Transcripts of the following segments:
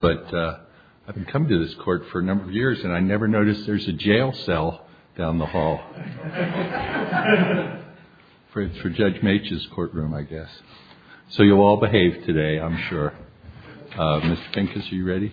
But I've been coming to this court for a number of years, and I never noticed there's a jail cell down the hall. It's for Judge Mitch's courtroom, I guess. So you all behave today, I'm sure. Mr. Pinkins, are you ready?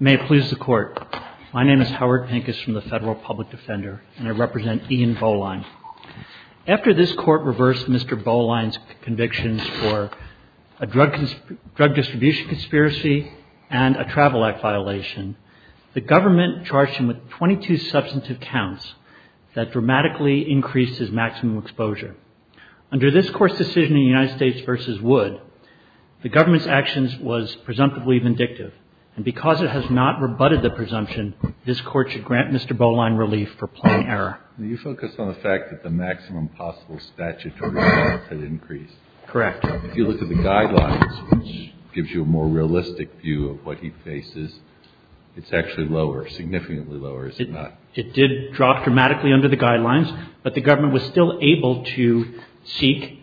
May it please the Court. My name is Howard Pinkins from the Federal Public Defender, and I represent Ian Bowline. After this Court reversed Mr. Bowline's convictions for a drug distribution conspiracy and a travel act violation, the government charged him with 22 substantive counts that dramatically increased his maximum exposure. Under this Court's decision in United States v. Wood, the government's actions was presumptively vindictive, and because it has not rebutted the presumption, this Court should grant Mr. Bowline relief for plain error. Do you focus on the fact that the maximum possible statutory benefit increased? Correct. If you look at the guidelines, which gives you a more realistic view of what he faces, it's actually lower, significantly lower, is it not? It did drop dramatically under the guidelines, but the government was still able to seek,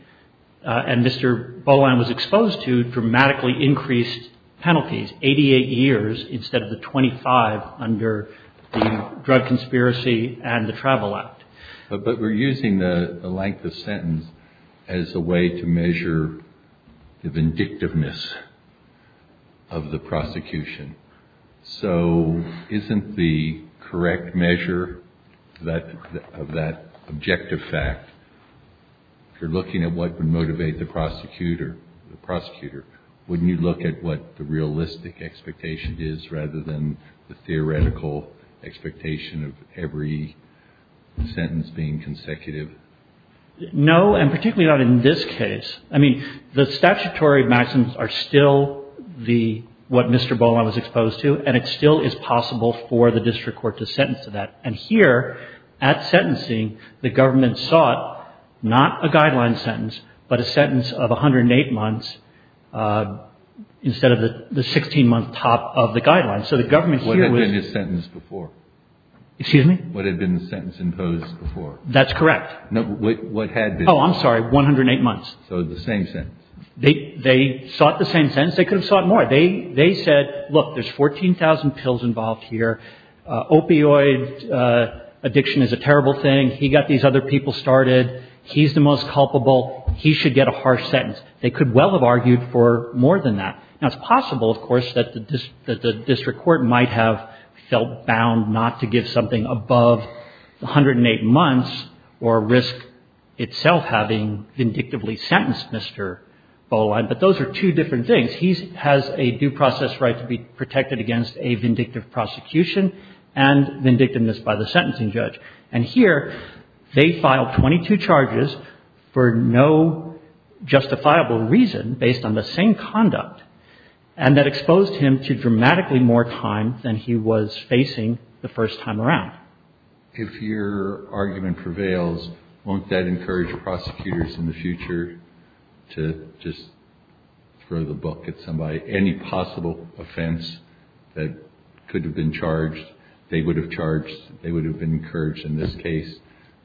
and Mr. Bowline was exposed to, dramatically increased penalties, 88 years instead of the 25 under the drug conspiracy and the travel act. But we're using the length of sentence as a way to measure the vindictiveness of the prosecution. So isn't the correct measure of that objective fact, if you're looking at what would motivate the prosecutor, wouldn't you look at what the realistic expectation is rather than the theoretical expectation of every sentence being consecutive? No, and particularly not in this case. I mean, the statutory maxims are still what Mr. Bowline was exposed to, and it still is possible for the district court to sentence to that. And here, at sentencing, the government sought not a guideline sentence, but a sentence of 108 months instead of the 16-month top of the guidelines. So the government here was – What had been the sentence before? Excuse me? What had been the sentence imposed before? That's correct. No, wait, what had been? Oh, I'm sorry, 108 months. So the same sentence. They sought the same sentence. They could have sought more. They said, look, there's 14,000 pills involved here. Opioid addiction is a terrible thing. He got these other people started. He's the most culpable. He should get a harsh sentence. They could well have argued for more than that. Now, it's possible, of course, that the district court might have felt bound not to give something above 108 months or risk itself having vindictively sentenced Mr. Bowline, but those are two different things. He has a due process right to be protected against a vindictive prosecution and vindictiveness by the sentencing judge. And here they filed 22 charges for no justifiable reason based on the same conduct and that exposed him to dramatically more time than he was facing the first time around. If your argument prevails, won't that encourage prosecutors in the future to just throw the book at somebody? Any possible offense that could have been charged, they would have charged, they would have been encouraged in this case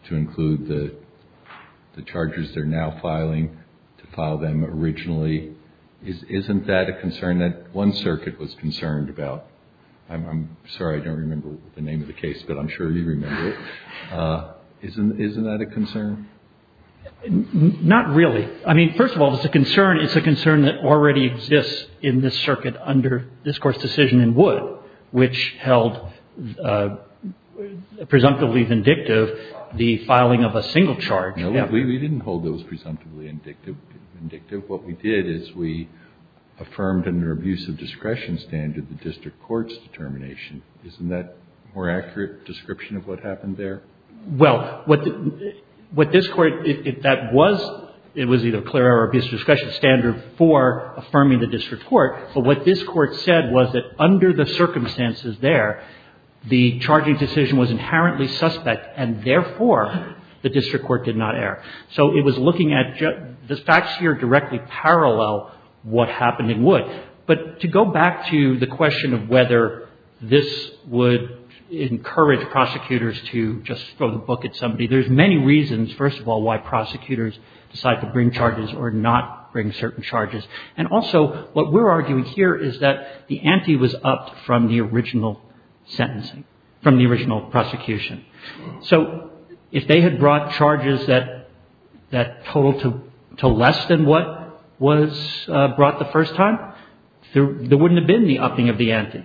to include the charges they're now filing, to file them originally. Isn't that a concern that one circuit was concerned about? I'm sorry, I don't remember the name of the case, but I'm sure you remember it. Isn't that a concern? Not really. I mean, first of all, it's a concern. It's a concern that already exists in this circuit under this Court's decision in Wood, which held presumptively vindictive the filing of a single charge. No, we didn't hold those presumptively vindictive. What we did is we affirmed under abuse of discretion standard the district court's determination. Isn't that a more accurate description of what happened there? Well, what this Court, that was, it was either clear or abuse of discretion standard for affirming the district court. But what this Court said was that under the circumstances there, the charging decision was inherently suspect and therefore the district court did not err. So it was looking at, the facts here directly parallel what happened in Wood. But to go back to the question of whether this would encourage prosecutors to just throw the book at somebody, there's many reasons, first of all, why prosecutors decide to bring charges or not bring certain charges. And also, what we're arguing here is that the ante was upped from the original sentencing, from the original prosecution. So if they had brought charges that totaled to less than what was brought the first time, there wouldn't have been the upping of the ante.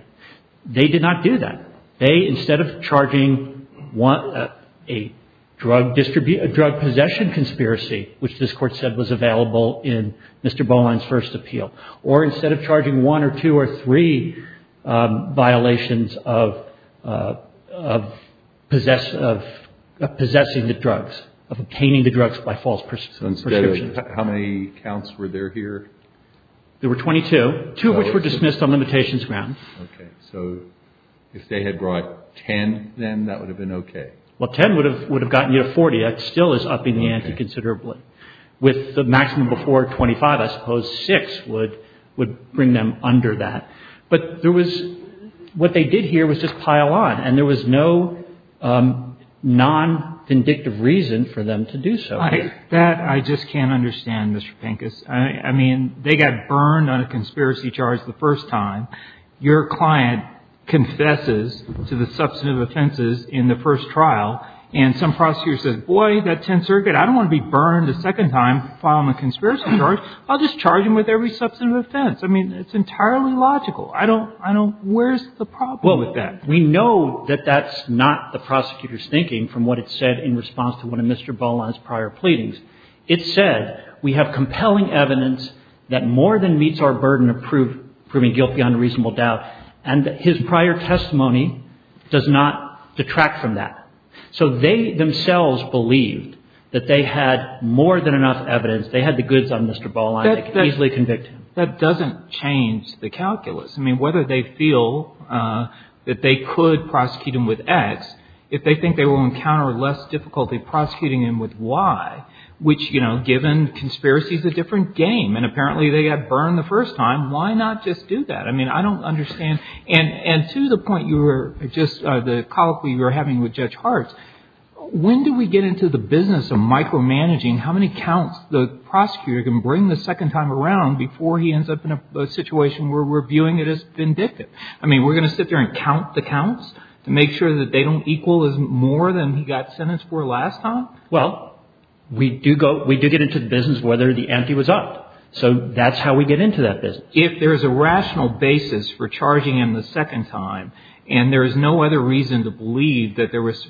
They did not do that. They, instead of charging a drug possession conspiracy, which this Court said was available in Mr. Boland's first appeal, or instead of charging one or two or three violations of possessing the drugs, of obtaining the drugs by false prescriptions. So instead of, how many counts were there here? There were 22, two of which were dismissed on limitations grounds. Okay. So if they had brought 10 then, that would have been okay? Well, 10 would have gotten you to 40. That still is upping the ante considerably. Okay. If the maximum before 25, I suppose 6 would bring them under that. But there was – what they did here was just pile on, and there was no non-vindictive reason for them to do so here. That I just can't understand, Mr. Pincus. I mean, they got burned on a conspiracy charge the first time. Your client confesses to the substantive offenses in the first trial, and some prosecutor says, boy, that 10th circuit, I don't want to be burned a second time following a conspiracy charge. I'll just charge them with every substantive offense. I mean, it's entirely logical. I don't – I don't – where's the problem? Well, with that, we know that that's not the prosecutor's thinking from what it said in response to one of Mr. Boland's prior pleadings. It said, we have compelling evidence that more than meets our burden of proving guilty on a reasonable doubt, and his prior testimony does not detract from that. So they themselves believed that they had more than enough evidence. They had the goods on Mr. Boland. They could easily convict him. That doesn't change the calculus. I mean, whether they feel that they could prosecute him with X, if they think they will encounter less difficulty prosecuting him with Y, which, you know, given conspiracy is a different game, and apparently they got burned the first time, why not just do that? I mean, I don't understand. And to the point you were – just the colloquy you were having with Judge Hartz, when do we get into the business of micromanaging how many counts the prosecutor can bring the second time around before he ends up in a situation where we're viewing it as vindictive? I mean, we're going to sit there and count the counts to make sure that they don't equal as more than he got sentenced for last time? Well, we do go – we do get into the business of whether the empty was upped. So that's how we get into that business. If there's a rational basis for charging him the second time, and there is no other reason to believe that there was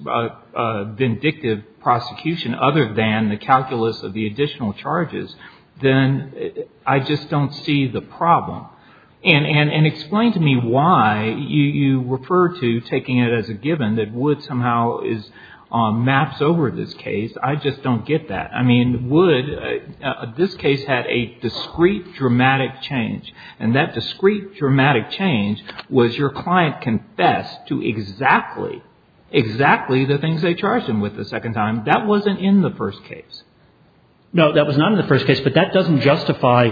a vindictive prosecution other than the calculus of the additional charges, then I just don't see the problem. And explain to me why you refer to taking it as a given that Wood somehow maps over this case. I just don't get that. I mean, Wood – this case had a discrete dramatic change. And that discrete dramatic change was your client confessed to exactly, exactly the things they charged him with the second time. That wasn't in the first case. No, that was not in the first case. But that doesn't justify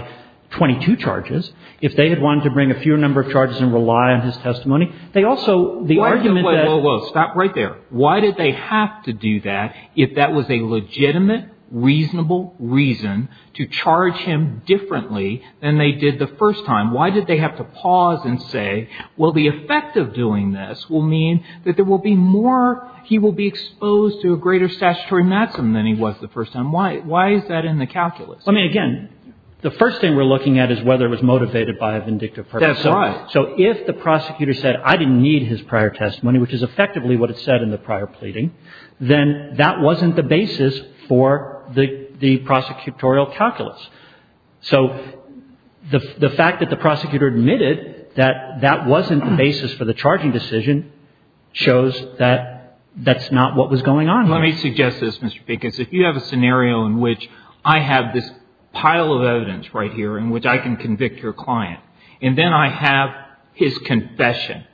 22 charges. If they had wanted to bring a fewer number of charges and rely on his testimony, they also – the argument that – Wait, wait, wait. Stop right there. Why did they have to do that if that was a legitimate, reasonable reason to charge him differently than they did the first time? Why did they have to pause and say, well, the effect of doing this will mean that there will be more – he will be exposed to a greater statutory maximum than he was the first time? Why is that in the calculus? I mean, again, the first thing we're looking at is whether it was motivated by a vindictive person. That's right. So if the prosecutor said, I didn't need his prior testimony, which is effectively what it said in the prior pleading, then that wasn't the basis for the prosecutorial calculus. So the fact that the prosecutor admitted that that wasn't the basis for the charging decision shows that that's not what was going on here. Let me suggest this, Mr. Pickens. If you have a scenario in which I have this pile of evidence right here in which I can convict your client, and then I have his confession,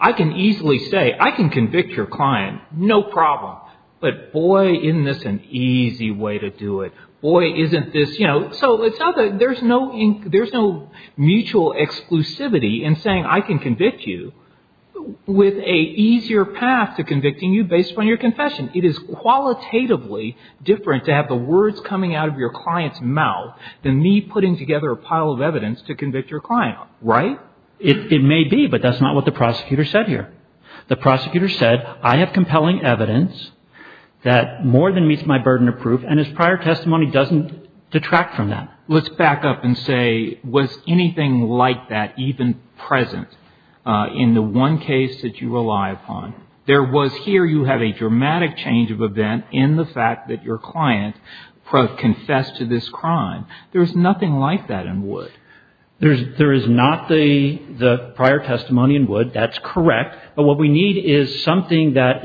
I can easily say, I can convict your client, no problem. But boy, isn't this an easy way to do it. Boy, isn't this – you know, so it's not that – there's no mutual exclusivity in saying I can convict you with an easier path to convicting you based upon your confession. It is qualitatively different to have the words coming out of your client's mouth than me putting together a pile of evidence to convict your client. Right? It may be, but that's not what the prosecutor said here. The prosecutor said, I have compelling evidence that more than meets my burden of proof, and his prior testimony doesn't detract from that. Let's back up and say, was anything like that even present in the one case that you rely upon? There was here you have a dramatic change of event in the fact that your client confessed to this crime. There is nothing like that in Wood. There is not the prior testimony in Wood. That's correct. But what we need is something that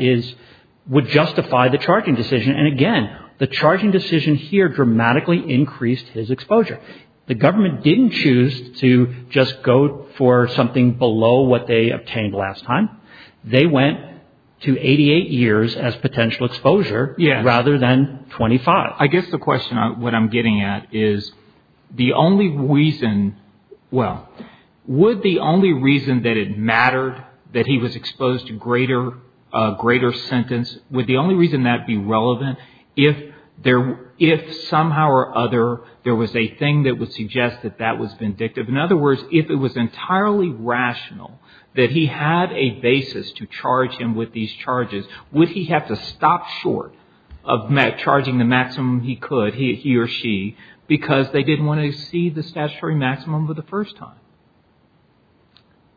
would justify the charging decision. And again, the charging decision here dramatically increased his exposure. The government didn't choose to just go for something below what they obtained last time. They went to 88 years as potential exposure rather than 25. I guess the question what I'm getting at is the only reason, well, would the only reason that it mattered that he was exposed to greater sentence, would the only reason that be relevant if somehow or other there was a thing that would suggest that that was vindictive? In other words, if it was entirely rational that he had a basis to charge him with these charges, would he have to stop short of charging the maximum he could, he or she, because they didn't want to exceed the statutory maximum for the first time?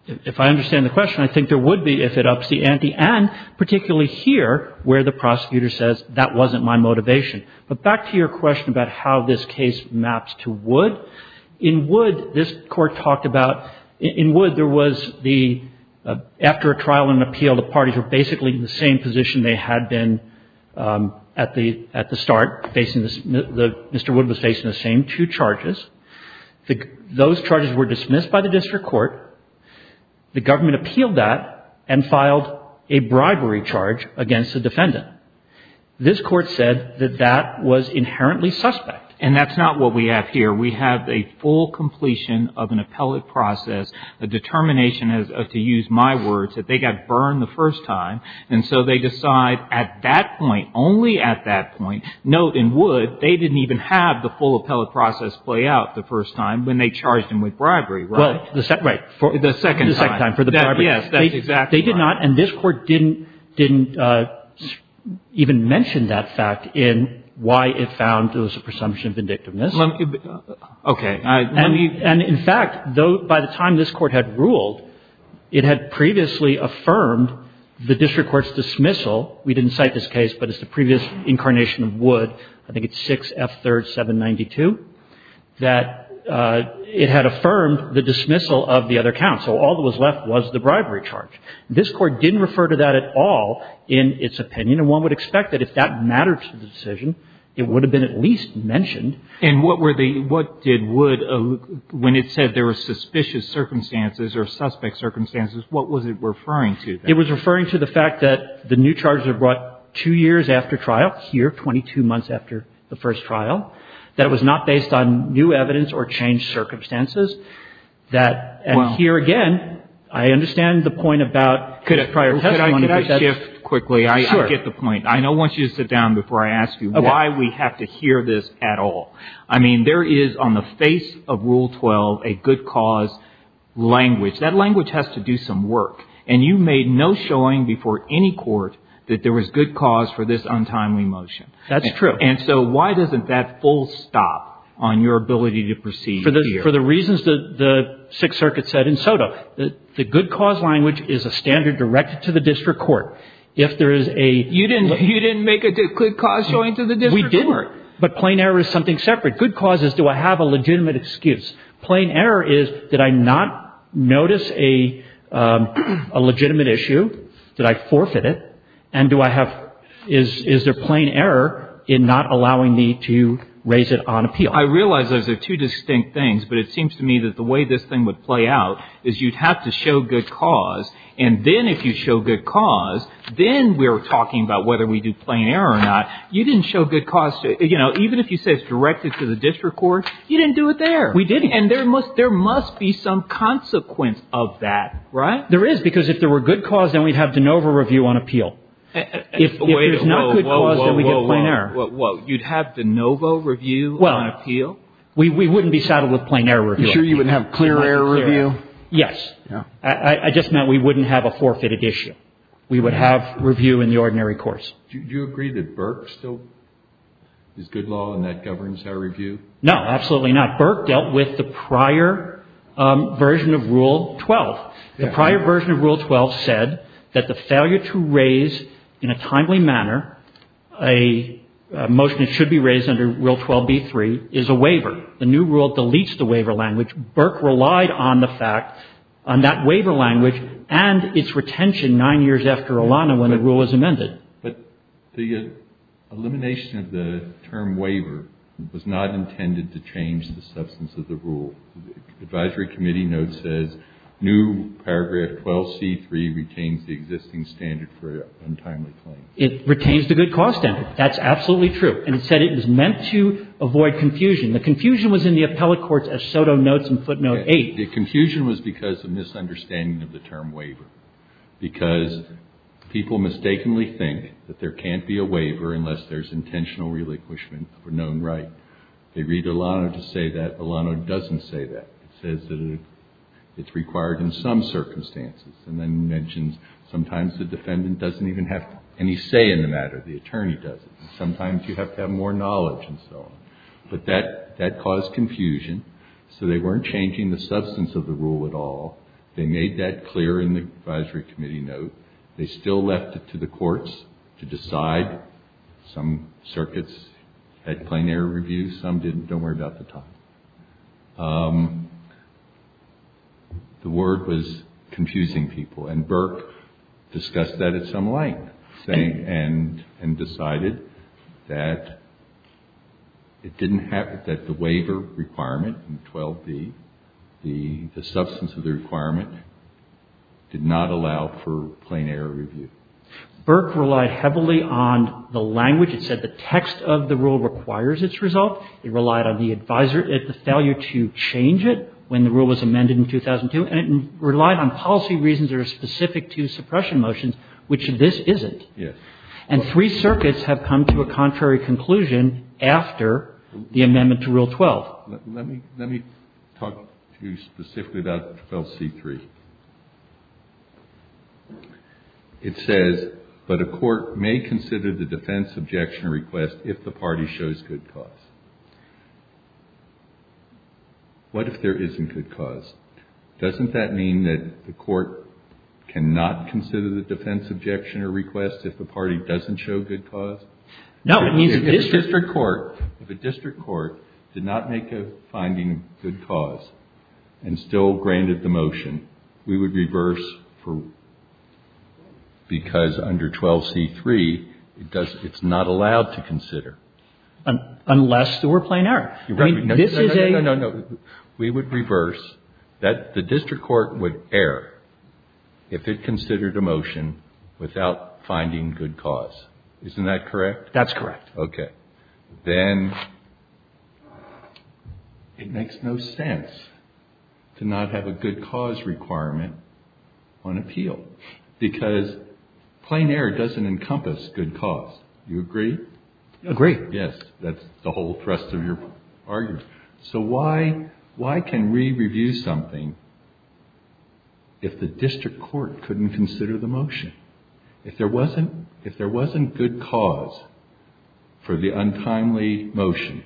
If I understand the question, I think there would be if it ups the ante, and particularly here where the prosecutor says that wasn't my motivation. But back to your question about how this case maps to Wood. In Wood, this Court talked about, in Wood there was the, after a trial and an appeal, the parties were basically in the same position they had been at the start, Mr. Wood was facing the same two charges. Those charges were dismissed by the district court. The government appealed that and filed a bribery charge against the defendant. This Court said that that was inherently suspect. And that's not what we have here. We have a full completion of an appellate process, a determination, to use my words, that they got burned the first time. And so they decide at that point, only at that point, note in Wood, they didn't even have the full appellate process play out the first time when they charged him with bribery, right? Right. The second time. The second time for the bribery. Yes, that's exactly right. They did not, and this Court didn't even mention that fact in why it found there was a presumption of indictiveness. Okay. And in fact, by the time this Court had ruled, it had previously affirmed the district court's dismissal. We didn't cite this case, but it's the previous incarnation of Wood. I think it's 6F3rd 792, that it had affirmed the dismissal of the other counsel. All that was left was the bribery charge. This Court didn't refer to that at all in its opinion. And one would expect that if that mattered to the decision, it would have been at least mentioned. And what did Wood, when it said there were suspicious circumstances or suspect circumstances, what was it referring to? It was referring to the fact that the new charges were brought two years after trial here, 22 months after the first trial, that it was not based on new evidence or changed circumstances. And here again, I understand the point about prior testimony. Could I shift quickly? Sure. I get the point. I know I want you to sit down before I ask you why we have to hear this at all. I mean, there is on the face of Rule 12 a good cause language. That language has to do some work. And you made no showing before any court that there was good cause for this untimely motion. That's true. And so why doesn't that full stop on your ability to proceed here? For the reasons that the Sixth Circuit said in SOTA. The good cause language is a standard directed to the district court. You didn't make a good cause showing to the district court? We didn't. But plain error is something separate. Good cause is, do I have a legitimate excuse? Plain error is, did I not notice a legitimate issue? Did I forfeit it? And is there plain error in not allowing me to raise it on appeal? I realize those are two distinct things. But it seems to me that the way this thing would play out is you'd have to show good cause. And then if you show good cause, then we're talking about whether we do plain error or not. You didn't show good cause. Even if you say it's directed to the district court, you didn't do it there. We didn't. And there must be some consequence of that, right? There is, because if there were good cause, then we'd have de novo review on appeal. If there's not good cause, then we get plain error. Whoa, whoa, whoa. You'd have de novo review on appeal? We wouldn't be saddled with plain error review. You sure you wouldn't have clear error review? Yes. I just meant we wouldn't have a forfeited issue. We would have review in the ordinary course. Do you agree that Burke still is good law and that governs our review? No, absolutely not. Burke dealt with the prior version of Rule 12. The prior version of Rule 12 said that the failure to raise in a timely manner a motion that should be raised under Rule 12b-3 is a waiver. The new rule deletes the waiver language. Burke relied on the fact, on that waiver language and its retention nine years after Olana when the rule was amended. But the elimination of the term waiver was not intended to change the substance of the rule. The advisory committee note says new paragraph 12c-3 retains the existing standard for untimely claim. It retains the good cause standard. That's absolutely true. And it said it was meant to avoid confusion. The confusion was in the appellate courts as Soto notes in footnote 8. The confusion was because of misunderstanding of the term waiver. Because people mistakenly think that there can't be a waiver unless there's intentional relinquishment of a known right. They read Olana to say that. Olana doesn't say that. It says that it's required in some circumstances. And then mentions sometimes the defendant doesn't even have any say in the matter. The attorney doesn't. Sometimes you have to have more knowledge and so on. But that caused confusion. So they weren't changing the substance of the rule at all. They made that clear in the advisory committee note. They still left it to the courts to decide. Some circuits had plenary reviews. Some didn't. Don't worry about the time. The word was confusing people. And Burke discussed that at some length. And decided that it didn't have, that the waiver requirement in 12B, the substance of the requirement, did not allow for plenary review. Burke relied heavily on the language. It said the text of the rule requires its result. It relied on the failure to change it when the rule was amended in 2002. And relied on policy reasons that are specific to suppression motions, which this isn't. And three circuits have come to a contrary conclusion after the amendment to Rule 12. Let me talk to you specifically about 12C3. It says, but a court may consider the defense objection request if the party shows good cause. What if there isn't good cause? Doesn't that mean that the court cannot consider the defense objection or request if the party doesn't show good cause? No. It means district court. If a district court did not make a finding of good cause and still granted the motion, we would reverse for, because under 12C3, it's not allowed to consider. Unless there were plenary. No, no, no. We would reverse. The district court would err if it considered a motion without finding good cause. Isn't that correct? That's correct. Okay. Then it makes no sense to not have a good cause requirement on appeal. Do you agree? I agree. Yes. That's the whole thrust of your argument. So why can we review something if the district court couldn't consider the motion? If there wasn't good cause for the untimely motion,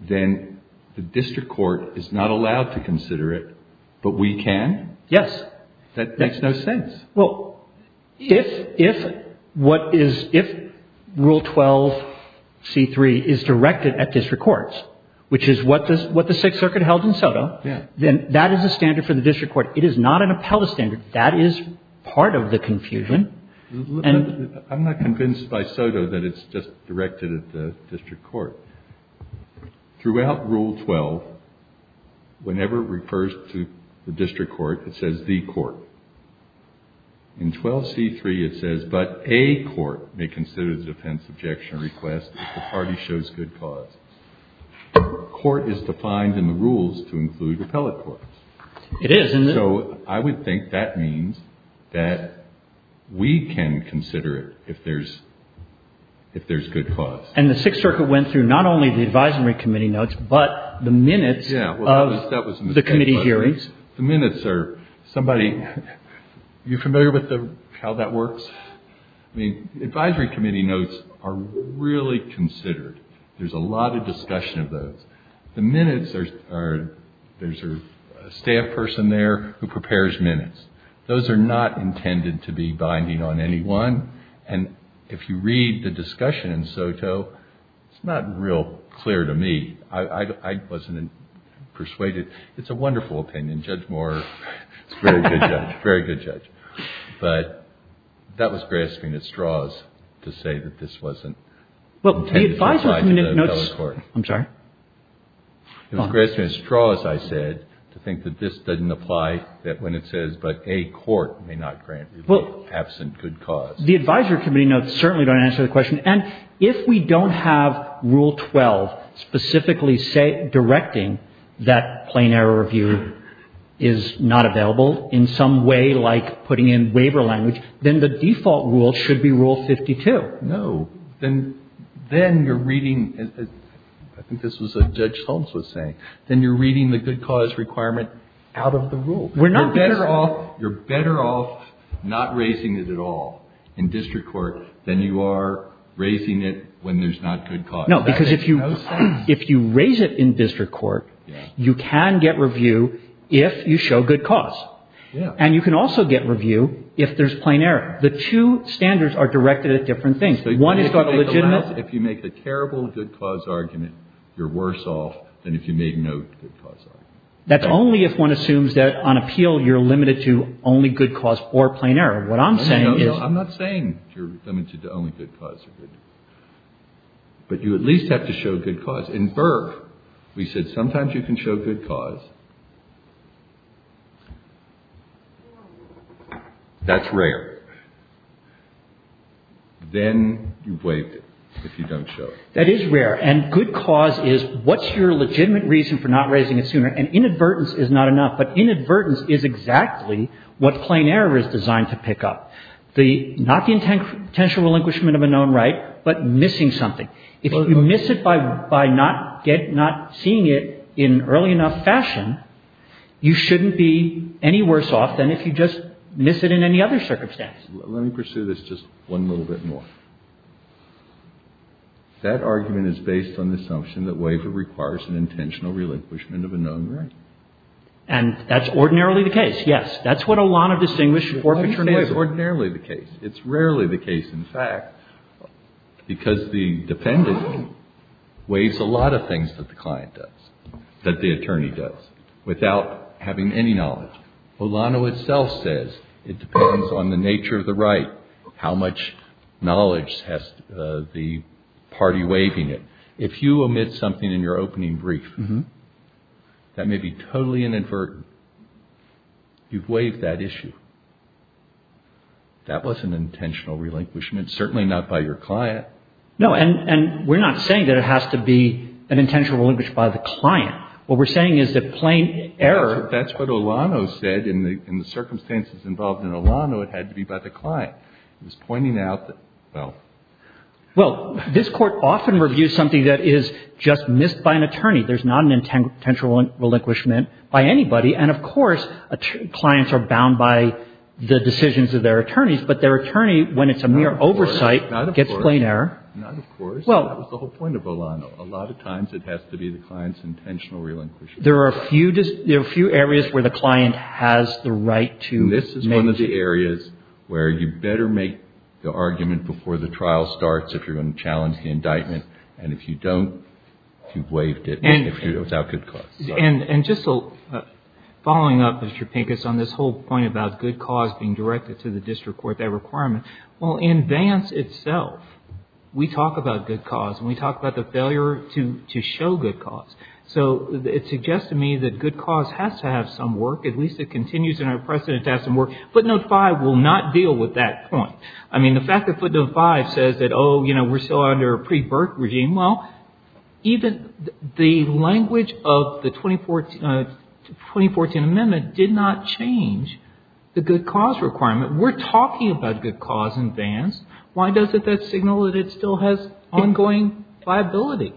then the district court is not allowed to consider it, but we can? Yes. That makes no sense. Well, if rule 12C3 is directed at district courts, which is what the Sixth Circuit held in Soto, then that is a standard for the district court. It is not an appellate standard. That is part of the confusion. I'm not convinced by Soto that it's just directed at the district court. Throughout rule 12, whenever it refers to the district court, it says the court. In 12C3, it says, but a court may consider the defense objection request if the party shows good cause. Court is defined in the rules to include appellate courts. It is, isn't it? So I would think that means that we can consider it if there's good cause. And the Sixth Circuit went through not only the advisory committee notes, but the minutes of the committee hearings. The minutes are somebody, you familiar with how that works? I mean, advisory committee notes are really considered. There's a lot of discussion of those. The minutes are, there's a staff person there who prepares minutes. Those are not intended to be binding on anyone. And if you read the discussion in Soto, it's not real clear to me. I wasn't persuaded. It's a wonderful opinion. Judge Moore is a very good judge. But that was grasping at straws to say that this wasn't intended to apply to the appellate court. It was grasping at straws, I said, to think that this doesn't apply when it says, but a court may not grant review absent good cause. The advisory committee notes certainly don't answer the question. And if we don't have Rule 12 specifically directing that plain error review is not available in some way like putting in waiver language, then the default rule should be Rule 52. No. Then you're reading, I think this was what Judge Holmes was saying, then you're reading the good cause requirement out of the rule. You're better off not raising it at all in district court than you are raising it when there's not good cause. No, because if you raise it in district court, you can get review if you show good cause. And you can also get review if there's plain error. The two standards are directed at different things. One has got a legitimate. If you make a terrible good cause argument, you're worse off than if you made no good cause argument. That's only if one assumes that on appeal you're limited to only good cause or plain error. What I'm saying is. I'm not saying you're limited to only good cause. But you at least have to show good cause. In Burke, we said sometimes you can show good cause. That's rare. Then you waive it if you don't show it. That is rare. And good cause is what's your legitimate reason for not raising it sooner? And inadvertence is not enough. But inadvertence is exactly what plain error is designed to pick up. Not the intentional relinquishment of a known right, but missing something. If you miss it by not seeing it in early enough fashion, you shouldn't be any worse off than if you just miss it in any other circumstance. Let me pursue this just one little bit more. That argument is based on the assumption that waiver requires an intentional relinquishment of a known right. And that's ordinarily the case. Yes. That's what Olano distinguished before paternity waiver. It's ordinarily the case. It's rarely the case. In fact, because the defendant weighs a lot of things that the client does, that the attorney does, without having any knowledge. Olano itself says it depends on the nature of the right. How much knowledge has the party waiving it? If you omit something in your opening brief, that may be totally inadvertent. You've waived that issue. That was an intentional relinquishment, certainly not by your client. No, and we're not saying that it has to be an intentional relinquishment by the client. What we're saying is that plain error. That's what Olano said. In the circumstances involved in Olano, it had to be by the client. He was pointing out that, well. Well, this Court often reviews something that is just missed by an attorney. There's not an intentional relinquishment by anybody. And, of course, clients are bound by the decisions of their attorneys. But their attorney, when it's a mere oversight, gets plain error. Not of course. Not of course. That was the whole point of Olano. A lot of times it has to be the client's intentional relinquishment. There are a few areas where the client has the right to make. This is one of the areas where you better make the argument before the trial starts if you're going to challenge the indictment. And if you don't, you've waived it without good cause. And just following up, Mr. Pincus, on this whole point about good cause being directed to the district court, that requirement. Well, in Vance itself, we talk about good cause. And we talk about the failure to show good cause. So it suggests to me that good cause has to have some work. At least it continues in our precedent to have some work. Footnote 5 will not deal with that point. I mean, the fact that footnote 5 says that, oh, you know, we're still under a pre-Burke regime. Well, even the language of the 2014 amendment did not change the good cause requirement. We're talking about good cause in Vance. Why doesn't that signal that it still has ongoing liability?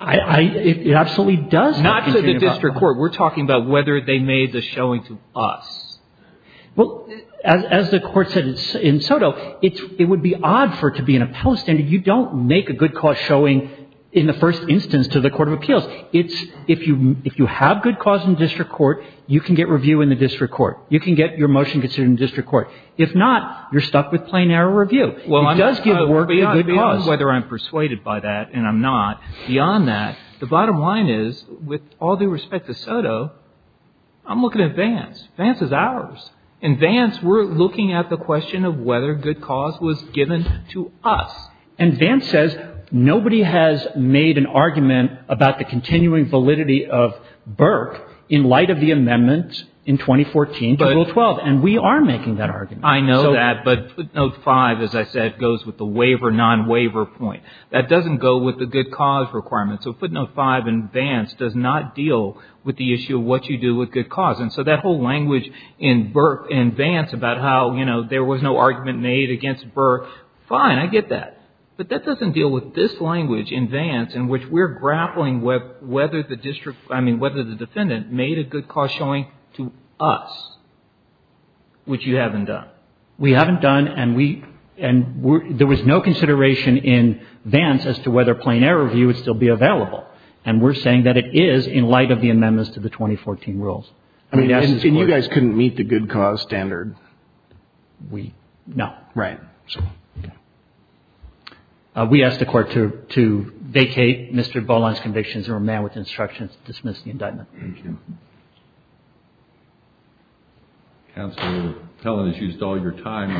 It absolutely does. Not to the district court. We're talking about whether they made the showing to us. Well, as the court said in Soto, it would be odd for it to be in a post and you don't make a good cause showing in the first instance to the court of appeals. It's if you have good cause in district court, you can get review in the district court. You can get your motion considered in district court. If not, you're stuck with plain error review. It does give the work to good cause. Whether I'm persuaded by that and I'm not. Beyond that, the bottom line is, with all due respect to Soto, I'm looking at Vance. Vance is ours. In Vance, we're looking at the question of whether good cause was given to us. And Vance says nobody has made an argument about the continuing validity of Burke in light of the amendment in 2014 to Rule 12. And we are making that argument. I know that, but footnote 5, as I said, goes with the waiver, non-waiver point. That doesn't go with the good cause requirement. So footnote 5 in Vance does not deal with the issue of what you do with good cause. And so that whole language in Vance about how there was no argument made against Burke, fine, I get that. But that doesn't deal with this language in Vance in which we're grappling with whether the district, I mean, whether the defendant made a good cause showing to us, which you haven't done. We haven't done, and we, and there was no consideration in Vance as to whether plain error review would still be available. And we're saying that it is in light of the amendments to the 2014 rules. And you guys couldn't meet the good cause standard? We, no. Right. We ask the Court to vacate Mr. Volon's convictions and remand with instructions to dismiss the indictment. Thank you. Counsel, your appellant has used all your time.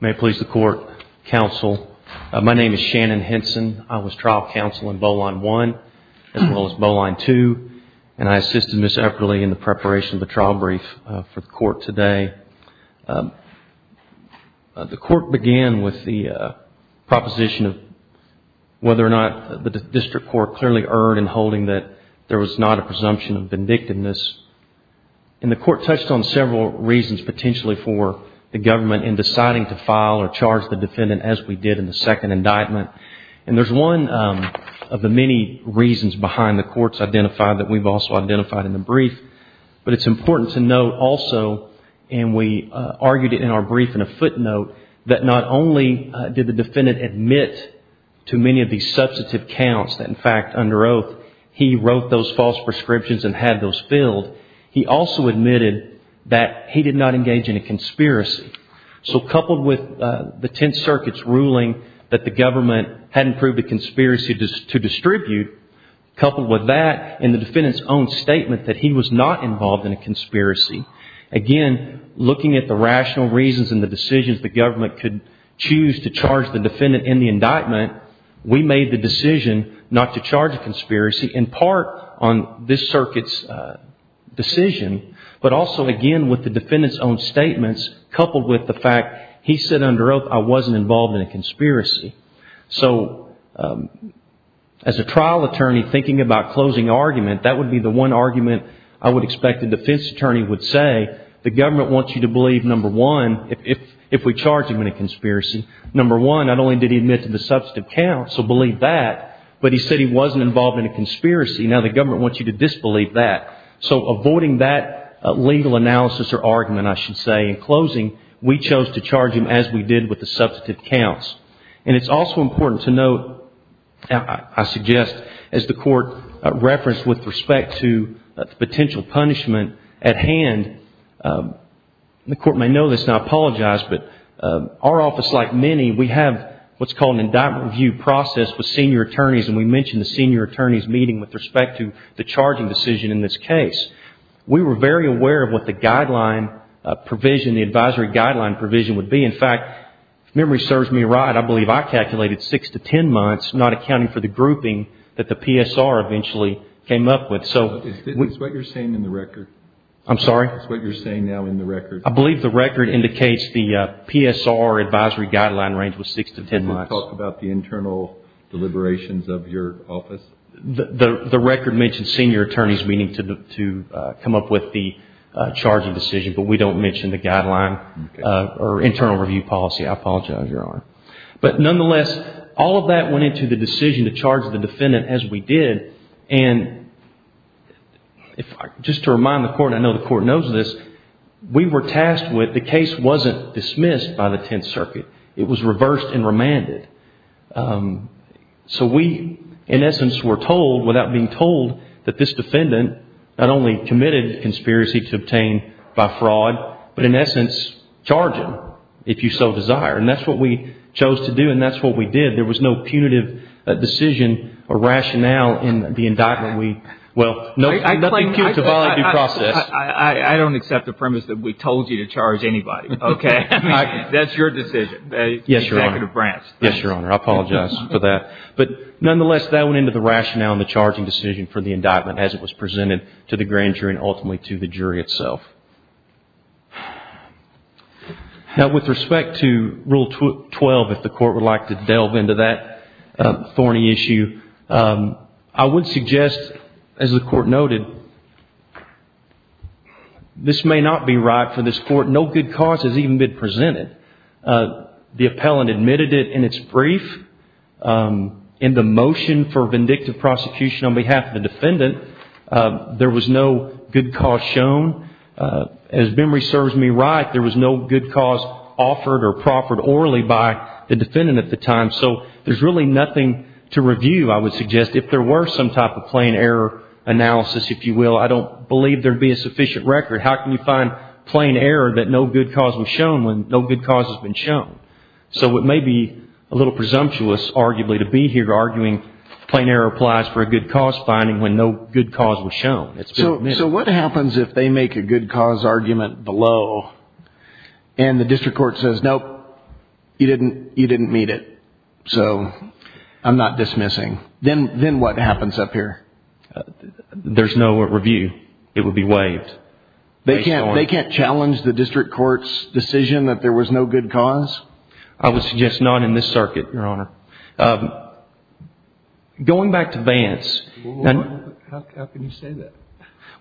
May it please the Court. Counsel, my name is Shannon Henson. I was trial counsel in Boline 1 as well as Boline 2. And I assisted Ms. Epperle in the preparation of the trial brief for the Court today. The Court began with the proposition of whether or not the district court clearly erred in holding that there was not a presumption of vindictiveness. And the Court touched on several reasons potentially for the government in deciding to file or charge the defendant as we did in the second indictment. And there's one of the many reasons behind the Court's identifying that we've also identified in the brief. But it's important to note also, and we argued it in our brief in a footnote, that not only did the defendant admit to many of these substantive counts that, in fact, under oath, he wrote those false prescriptions and had those filled, he also admitted that he did not engage in a conspiracy. So coupled with the Tenth Circuit's ruling that the government hadn't proved a conspiracy to distribute, coupled with that and the defendant's own statement that he was not involved in a conspiracy, again, looking at the rational reasons and the decisions the government could choose to charge the defendant in the indictment, we made the decision not to charge a conspiracy in part on this Circuit's decision, but also, again, with the defendant's own statements coupled with the fact he said under oath, I wasn't involved in a conspiracy. So as a trial attorney thinking about closing argument, that would be the one argument I would expect a defense attorney would say, the government wants you to believe, number one, if we charge him in a conspiracy, number one, not only did he admit to the substantive counts, so believe that, but he said he wasn't involved in a conspiracy. Now the government wants you to disbelieve that. So avoiding that legal analysis or argument, I should say, in closing, we chose to charge him as we did with the substantive counts. And it's also important to note, I suggest, as the Court referenced with respect to potential punishment at hand, and the Court may know this and I apologize, but our office, like many, we have what's called an indictment review process with senior attorneys, and we mentioned the senior attorney's meeting with respect to the charging decision in this case. We were very aware of what the guideline provision, the advisory guideline provision would be. In fact, if memory serves me right, I believe I calculated six to ten months, not accounting for the grouping that the PSR eventually came up with. It's what you're saying in the record. I'm sorry? It's what you're saying now in the record. I believe the record indicates the PSR advisory guideline range was six to ten months. Can you talk about the internal deliberations of your office? The record mentions senior attorney's meeting to come up with the charging decision, but we don't mention the guideline or internal review policy. I apologize, Your Honor. But nonetheless, all of that went into the decision to charge the defendant as we did, and just to remind the Court, and I know the Court knows this, we were tasked with, the case wasn't dismissed by the Tenth Circuit. It was reversed and remanded. So we, in essence, were told, without being told, that this defendant not only committed conspiracy to obtain by fraud, but in essence, charged him, if you so desire. And that's what we chose to do, and that's what we did. There was no punitive decision or rationale in the indictment. Well, nothing cute about the process. I don't accept the premise that we told you to charge anybody. Okay. That's your decision. Yes, Your Honor. Executive branch. Yes, Your Honor. I apologize for that. But nonetheless, that went into the rationale and the charging decision for the indictment as it was presented to the grand jury and ultimately to the jury itself. Now, with respect to Rule 12, if the Court would like to delve into that thorny issue, I would suggest, as the Court noted, this may not be right for this Court. No good cause has even been presented. The appellant admitted it in its brief. In the motion for vindictive prosecution on behalf of the defendant, there was no good cause shown. As memory serves me right, there was no good cause offered or proffered orally by the defendant at the time. So there's really nothing to review, I would suggest. If there were some type of plain error analysis, if you will, I don't believe there would be a sufficient record. How can you find plain error that no good cause was shown when no good cause has been shown? So it may be a little presumptuous, arguably, to be here arguing plain error applies for a good cause finding when no good cause was shown. So what happens if they make a good cause argument below and the district court says, Nope, you didn't meet it, so I'm not dismissing. Then what happens up here? There's no review. It would be waived. They can't challenge the district court's decision that there was no good cause? I would suggest not in this circuit, Your Honor. Going back to Vance. How can you say that?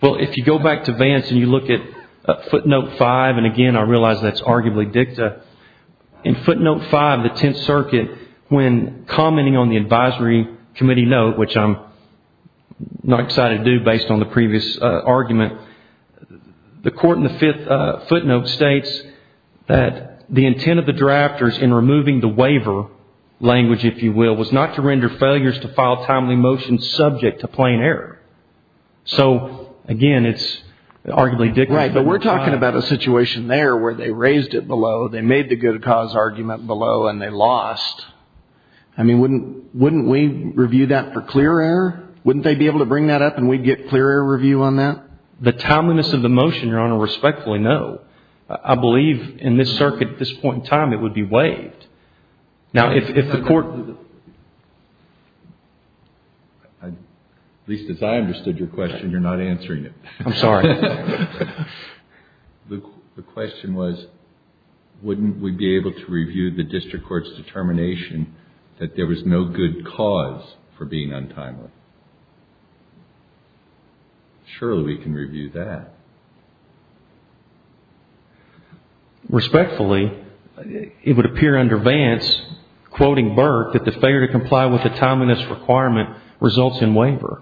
Well, if you go back to Vance and you look at footnote five, and again, I realize that's arguably dicta. In footnote five of the Tenth Circuit, when commenting on the advisory committee note, which I'm not excited to do based on the previous argument, the court in the fifth footnote states that the intent of the drafters in removing the waiver language, if you will, was not to render failures to file timely motions subject to plain error. So, again, it's arguably dicta. Right, but we're talking about a situation there where they raised it below, they made the good cause argument below, and they lost. I mean, wouldn't we review that for clear error? Wouldn't they be able to bring that up and we'd get clear error review on that? The timeliness of the motion, Your Honor, respectfully, no. I believe in this circuit, at this point in time, it would be waived. Now, if the court… At least as I understood your question, you're not answering it. I'm sorry. The question was, wouldn't we be able to review the district court's determination that there was no good cause for being untimely? Surely we can review that. Respectfully, it would appear under Vance, quoting Burke, that the failure to comply with the timeliness requirement results in waiver.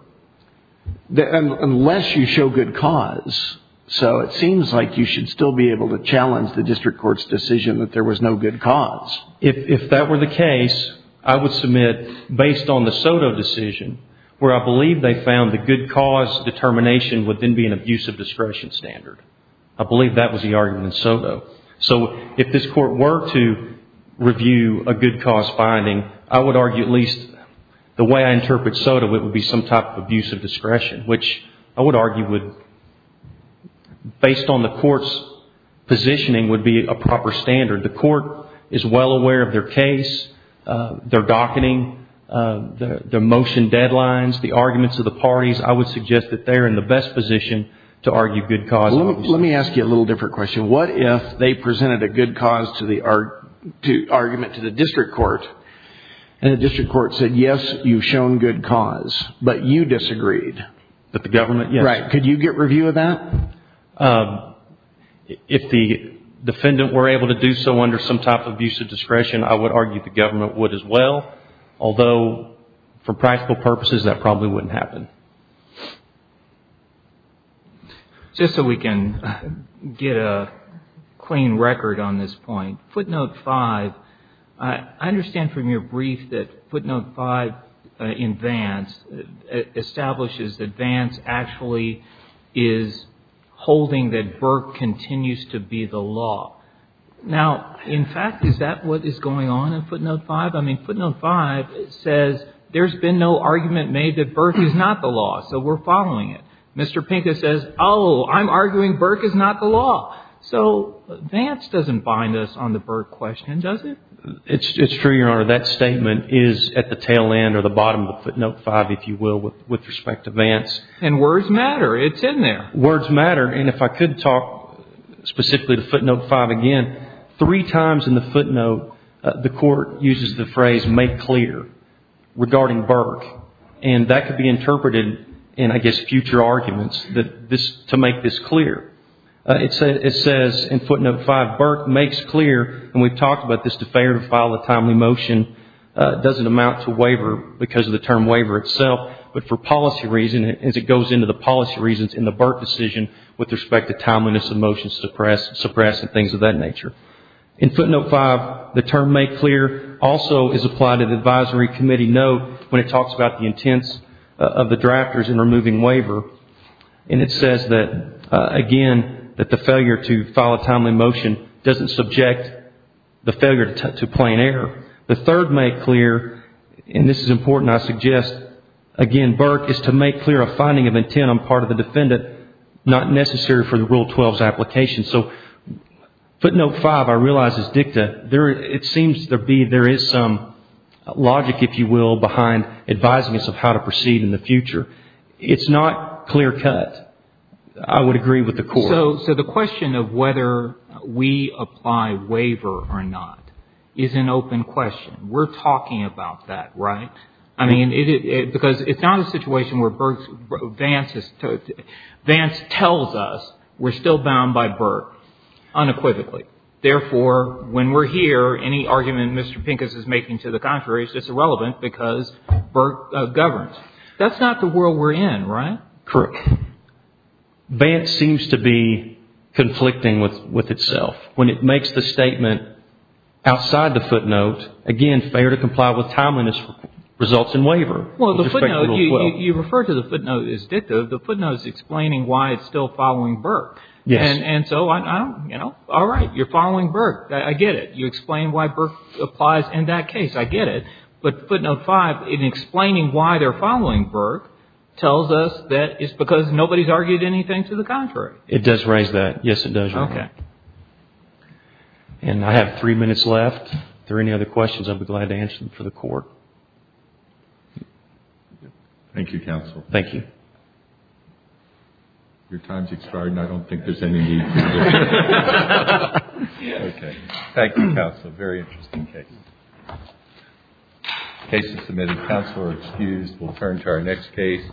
Unless you show good cause. So it seems like you should still be able to challenge the district court's decision that there was no good cause. If that were the case, I would submit, based on the Soto decision, where I believe they found the good cause determination would then be an abusive discretion standard. I believe that was the argument in Soto. So if this court were to review a good cause finding, I would argue at least the way I interpret Soto, it would be some type of abusive discretion, which I would argue would, based on the court's positioning, would be a proper standard. The court is well aware of their case, their docketing, their motion deadlines, the arguments of the parties. I would suggest that they're in the best position to argue good cause. Let me ask you a little different question. What if they presented a good cause argument to the district court, and the district court said, yes, you've shown good cause, but you disagreed? But the government, yes. Right. Could you get review of that? If the defendant were able to do so under some type of abusive discretion, I would argue the government would as well. Although, for practical purposes, that probably wouldn't happen. Just so we can get a clean record on this point, footnote 5, I understand from your brief that footnote 5 in Vance establishes that Vance actually is holding that Burke continues to be the law. Now, in fact, is that what is going on in footnote 5? I mean, footnote 5 says there's been no argument made that Burke is not the law, so we're following it. Mr. Pincus says, oh, I'm arguing Burke is not the law. So Vance doesn't bind us on the Burke question, does it? It's true, Your Honor. That statement is at the tail end or the bottom of footnote 5, if you will, with respect to Vance. And words matter. It's in there. Words matter. And if I could talk specifically to footnote 5 again, three times in the footnote, the court uses the phrase, make clear, regarding Burke. And that could be interpreted in, I guess, future arguments to make this clear. It says in footnote 5, Burke makes clear, and we've talked about this, to fail to file a timely motion, doesn't amount to waiver because of the term with respect to timeliness of motions suppressed and things of that nature. In footnote 5, the term make clear also is applied to the advisory committee note when it talks about the intents of the drafters in removing waiver. And it says that, again, that the failure to file a timely motion doesn't subject the failure to plain error. The third make clear, and this is important, I suggest, again, Burke is to make clear a finding of intent on part of the defendant, not necessary for the Rule 12's application. So footnote 5, I realize, is dicta. It seems there is some logic, if you will, behind advising us of how to proceed in the future. It's not clear cut. I would agree with the court. So the question of whether we apply waiver or not is an open question. We're talking about that, right? I mean, because it's not a situation where Burke's, Vance's, Vance tells us we're still bound by Burke unequivocally. Therefore, when we're here, any argument Mr. Pincus is making to the contrary is just irrelevant because Burke governs. That's not the world we're in, right? Correct. Vance seems to be conflicting with itself. When it makes the statement outside the footnote, again, failure to comply with timeliness results in waiver. Well, the footnote, you refer to the footnote as dicta. The footnote is explaining why it's still following Burke. Yes. And so I don't, you know, all right, you're following Burke. I get it. You explain why Burke applies in that case. I get it. But footnote 5, in explaining why they're following Burke, tells us that it's because nobody's argued anything to the contrary. It does raise that. Yes, it does. Okay. And I have three minutes left. If there are any other questions, I'd be glad to answer them for the Court. Thank you, Counsel. Thank you. Your time's expired, and I don't think there's any need to do that. Okay. Thank you, Counsel. A very interesting case. The case is submitted. Counsel are excused. We'll turn to our next case.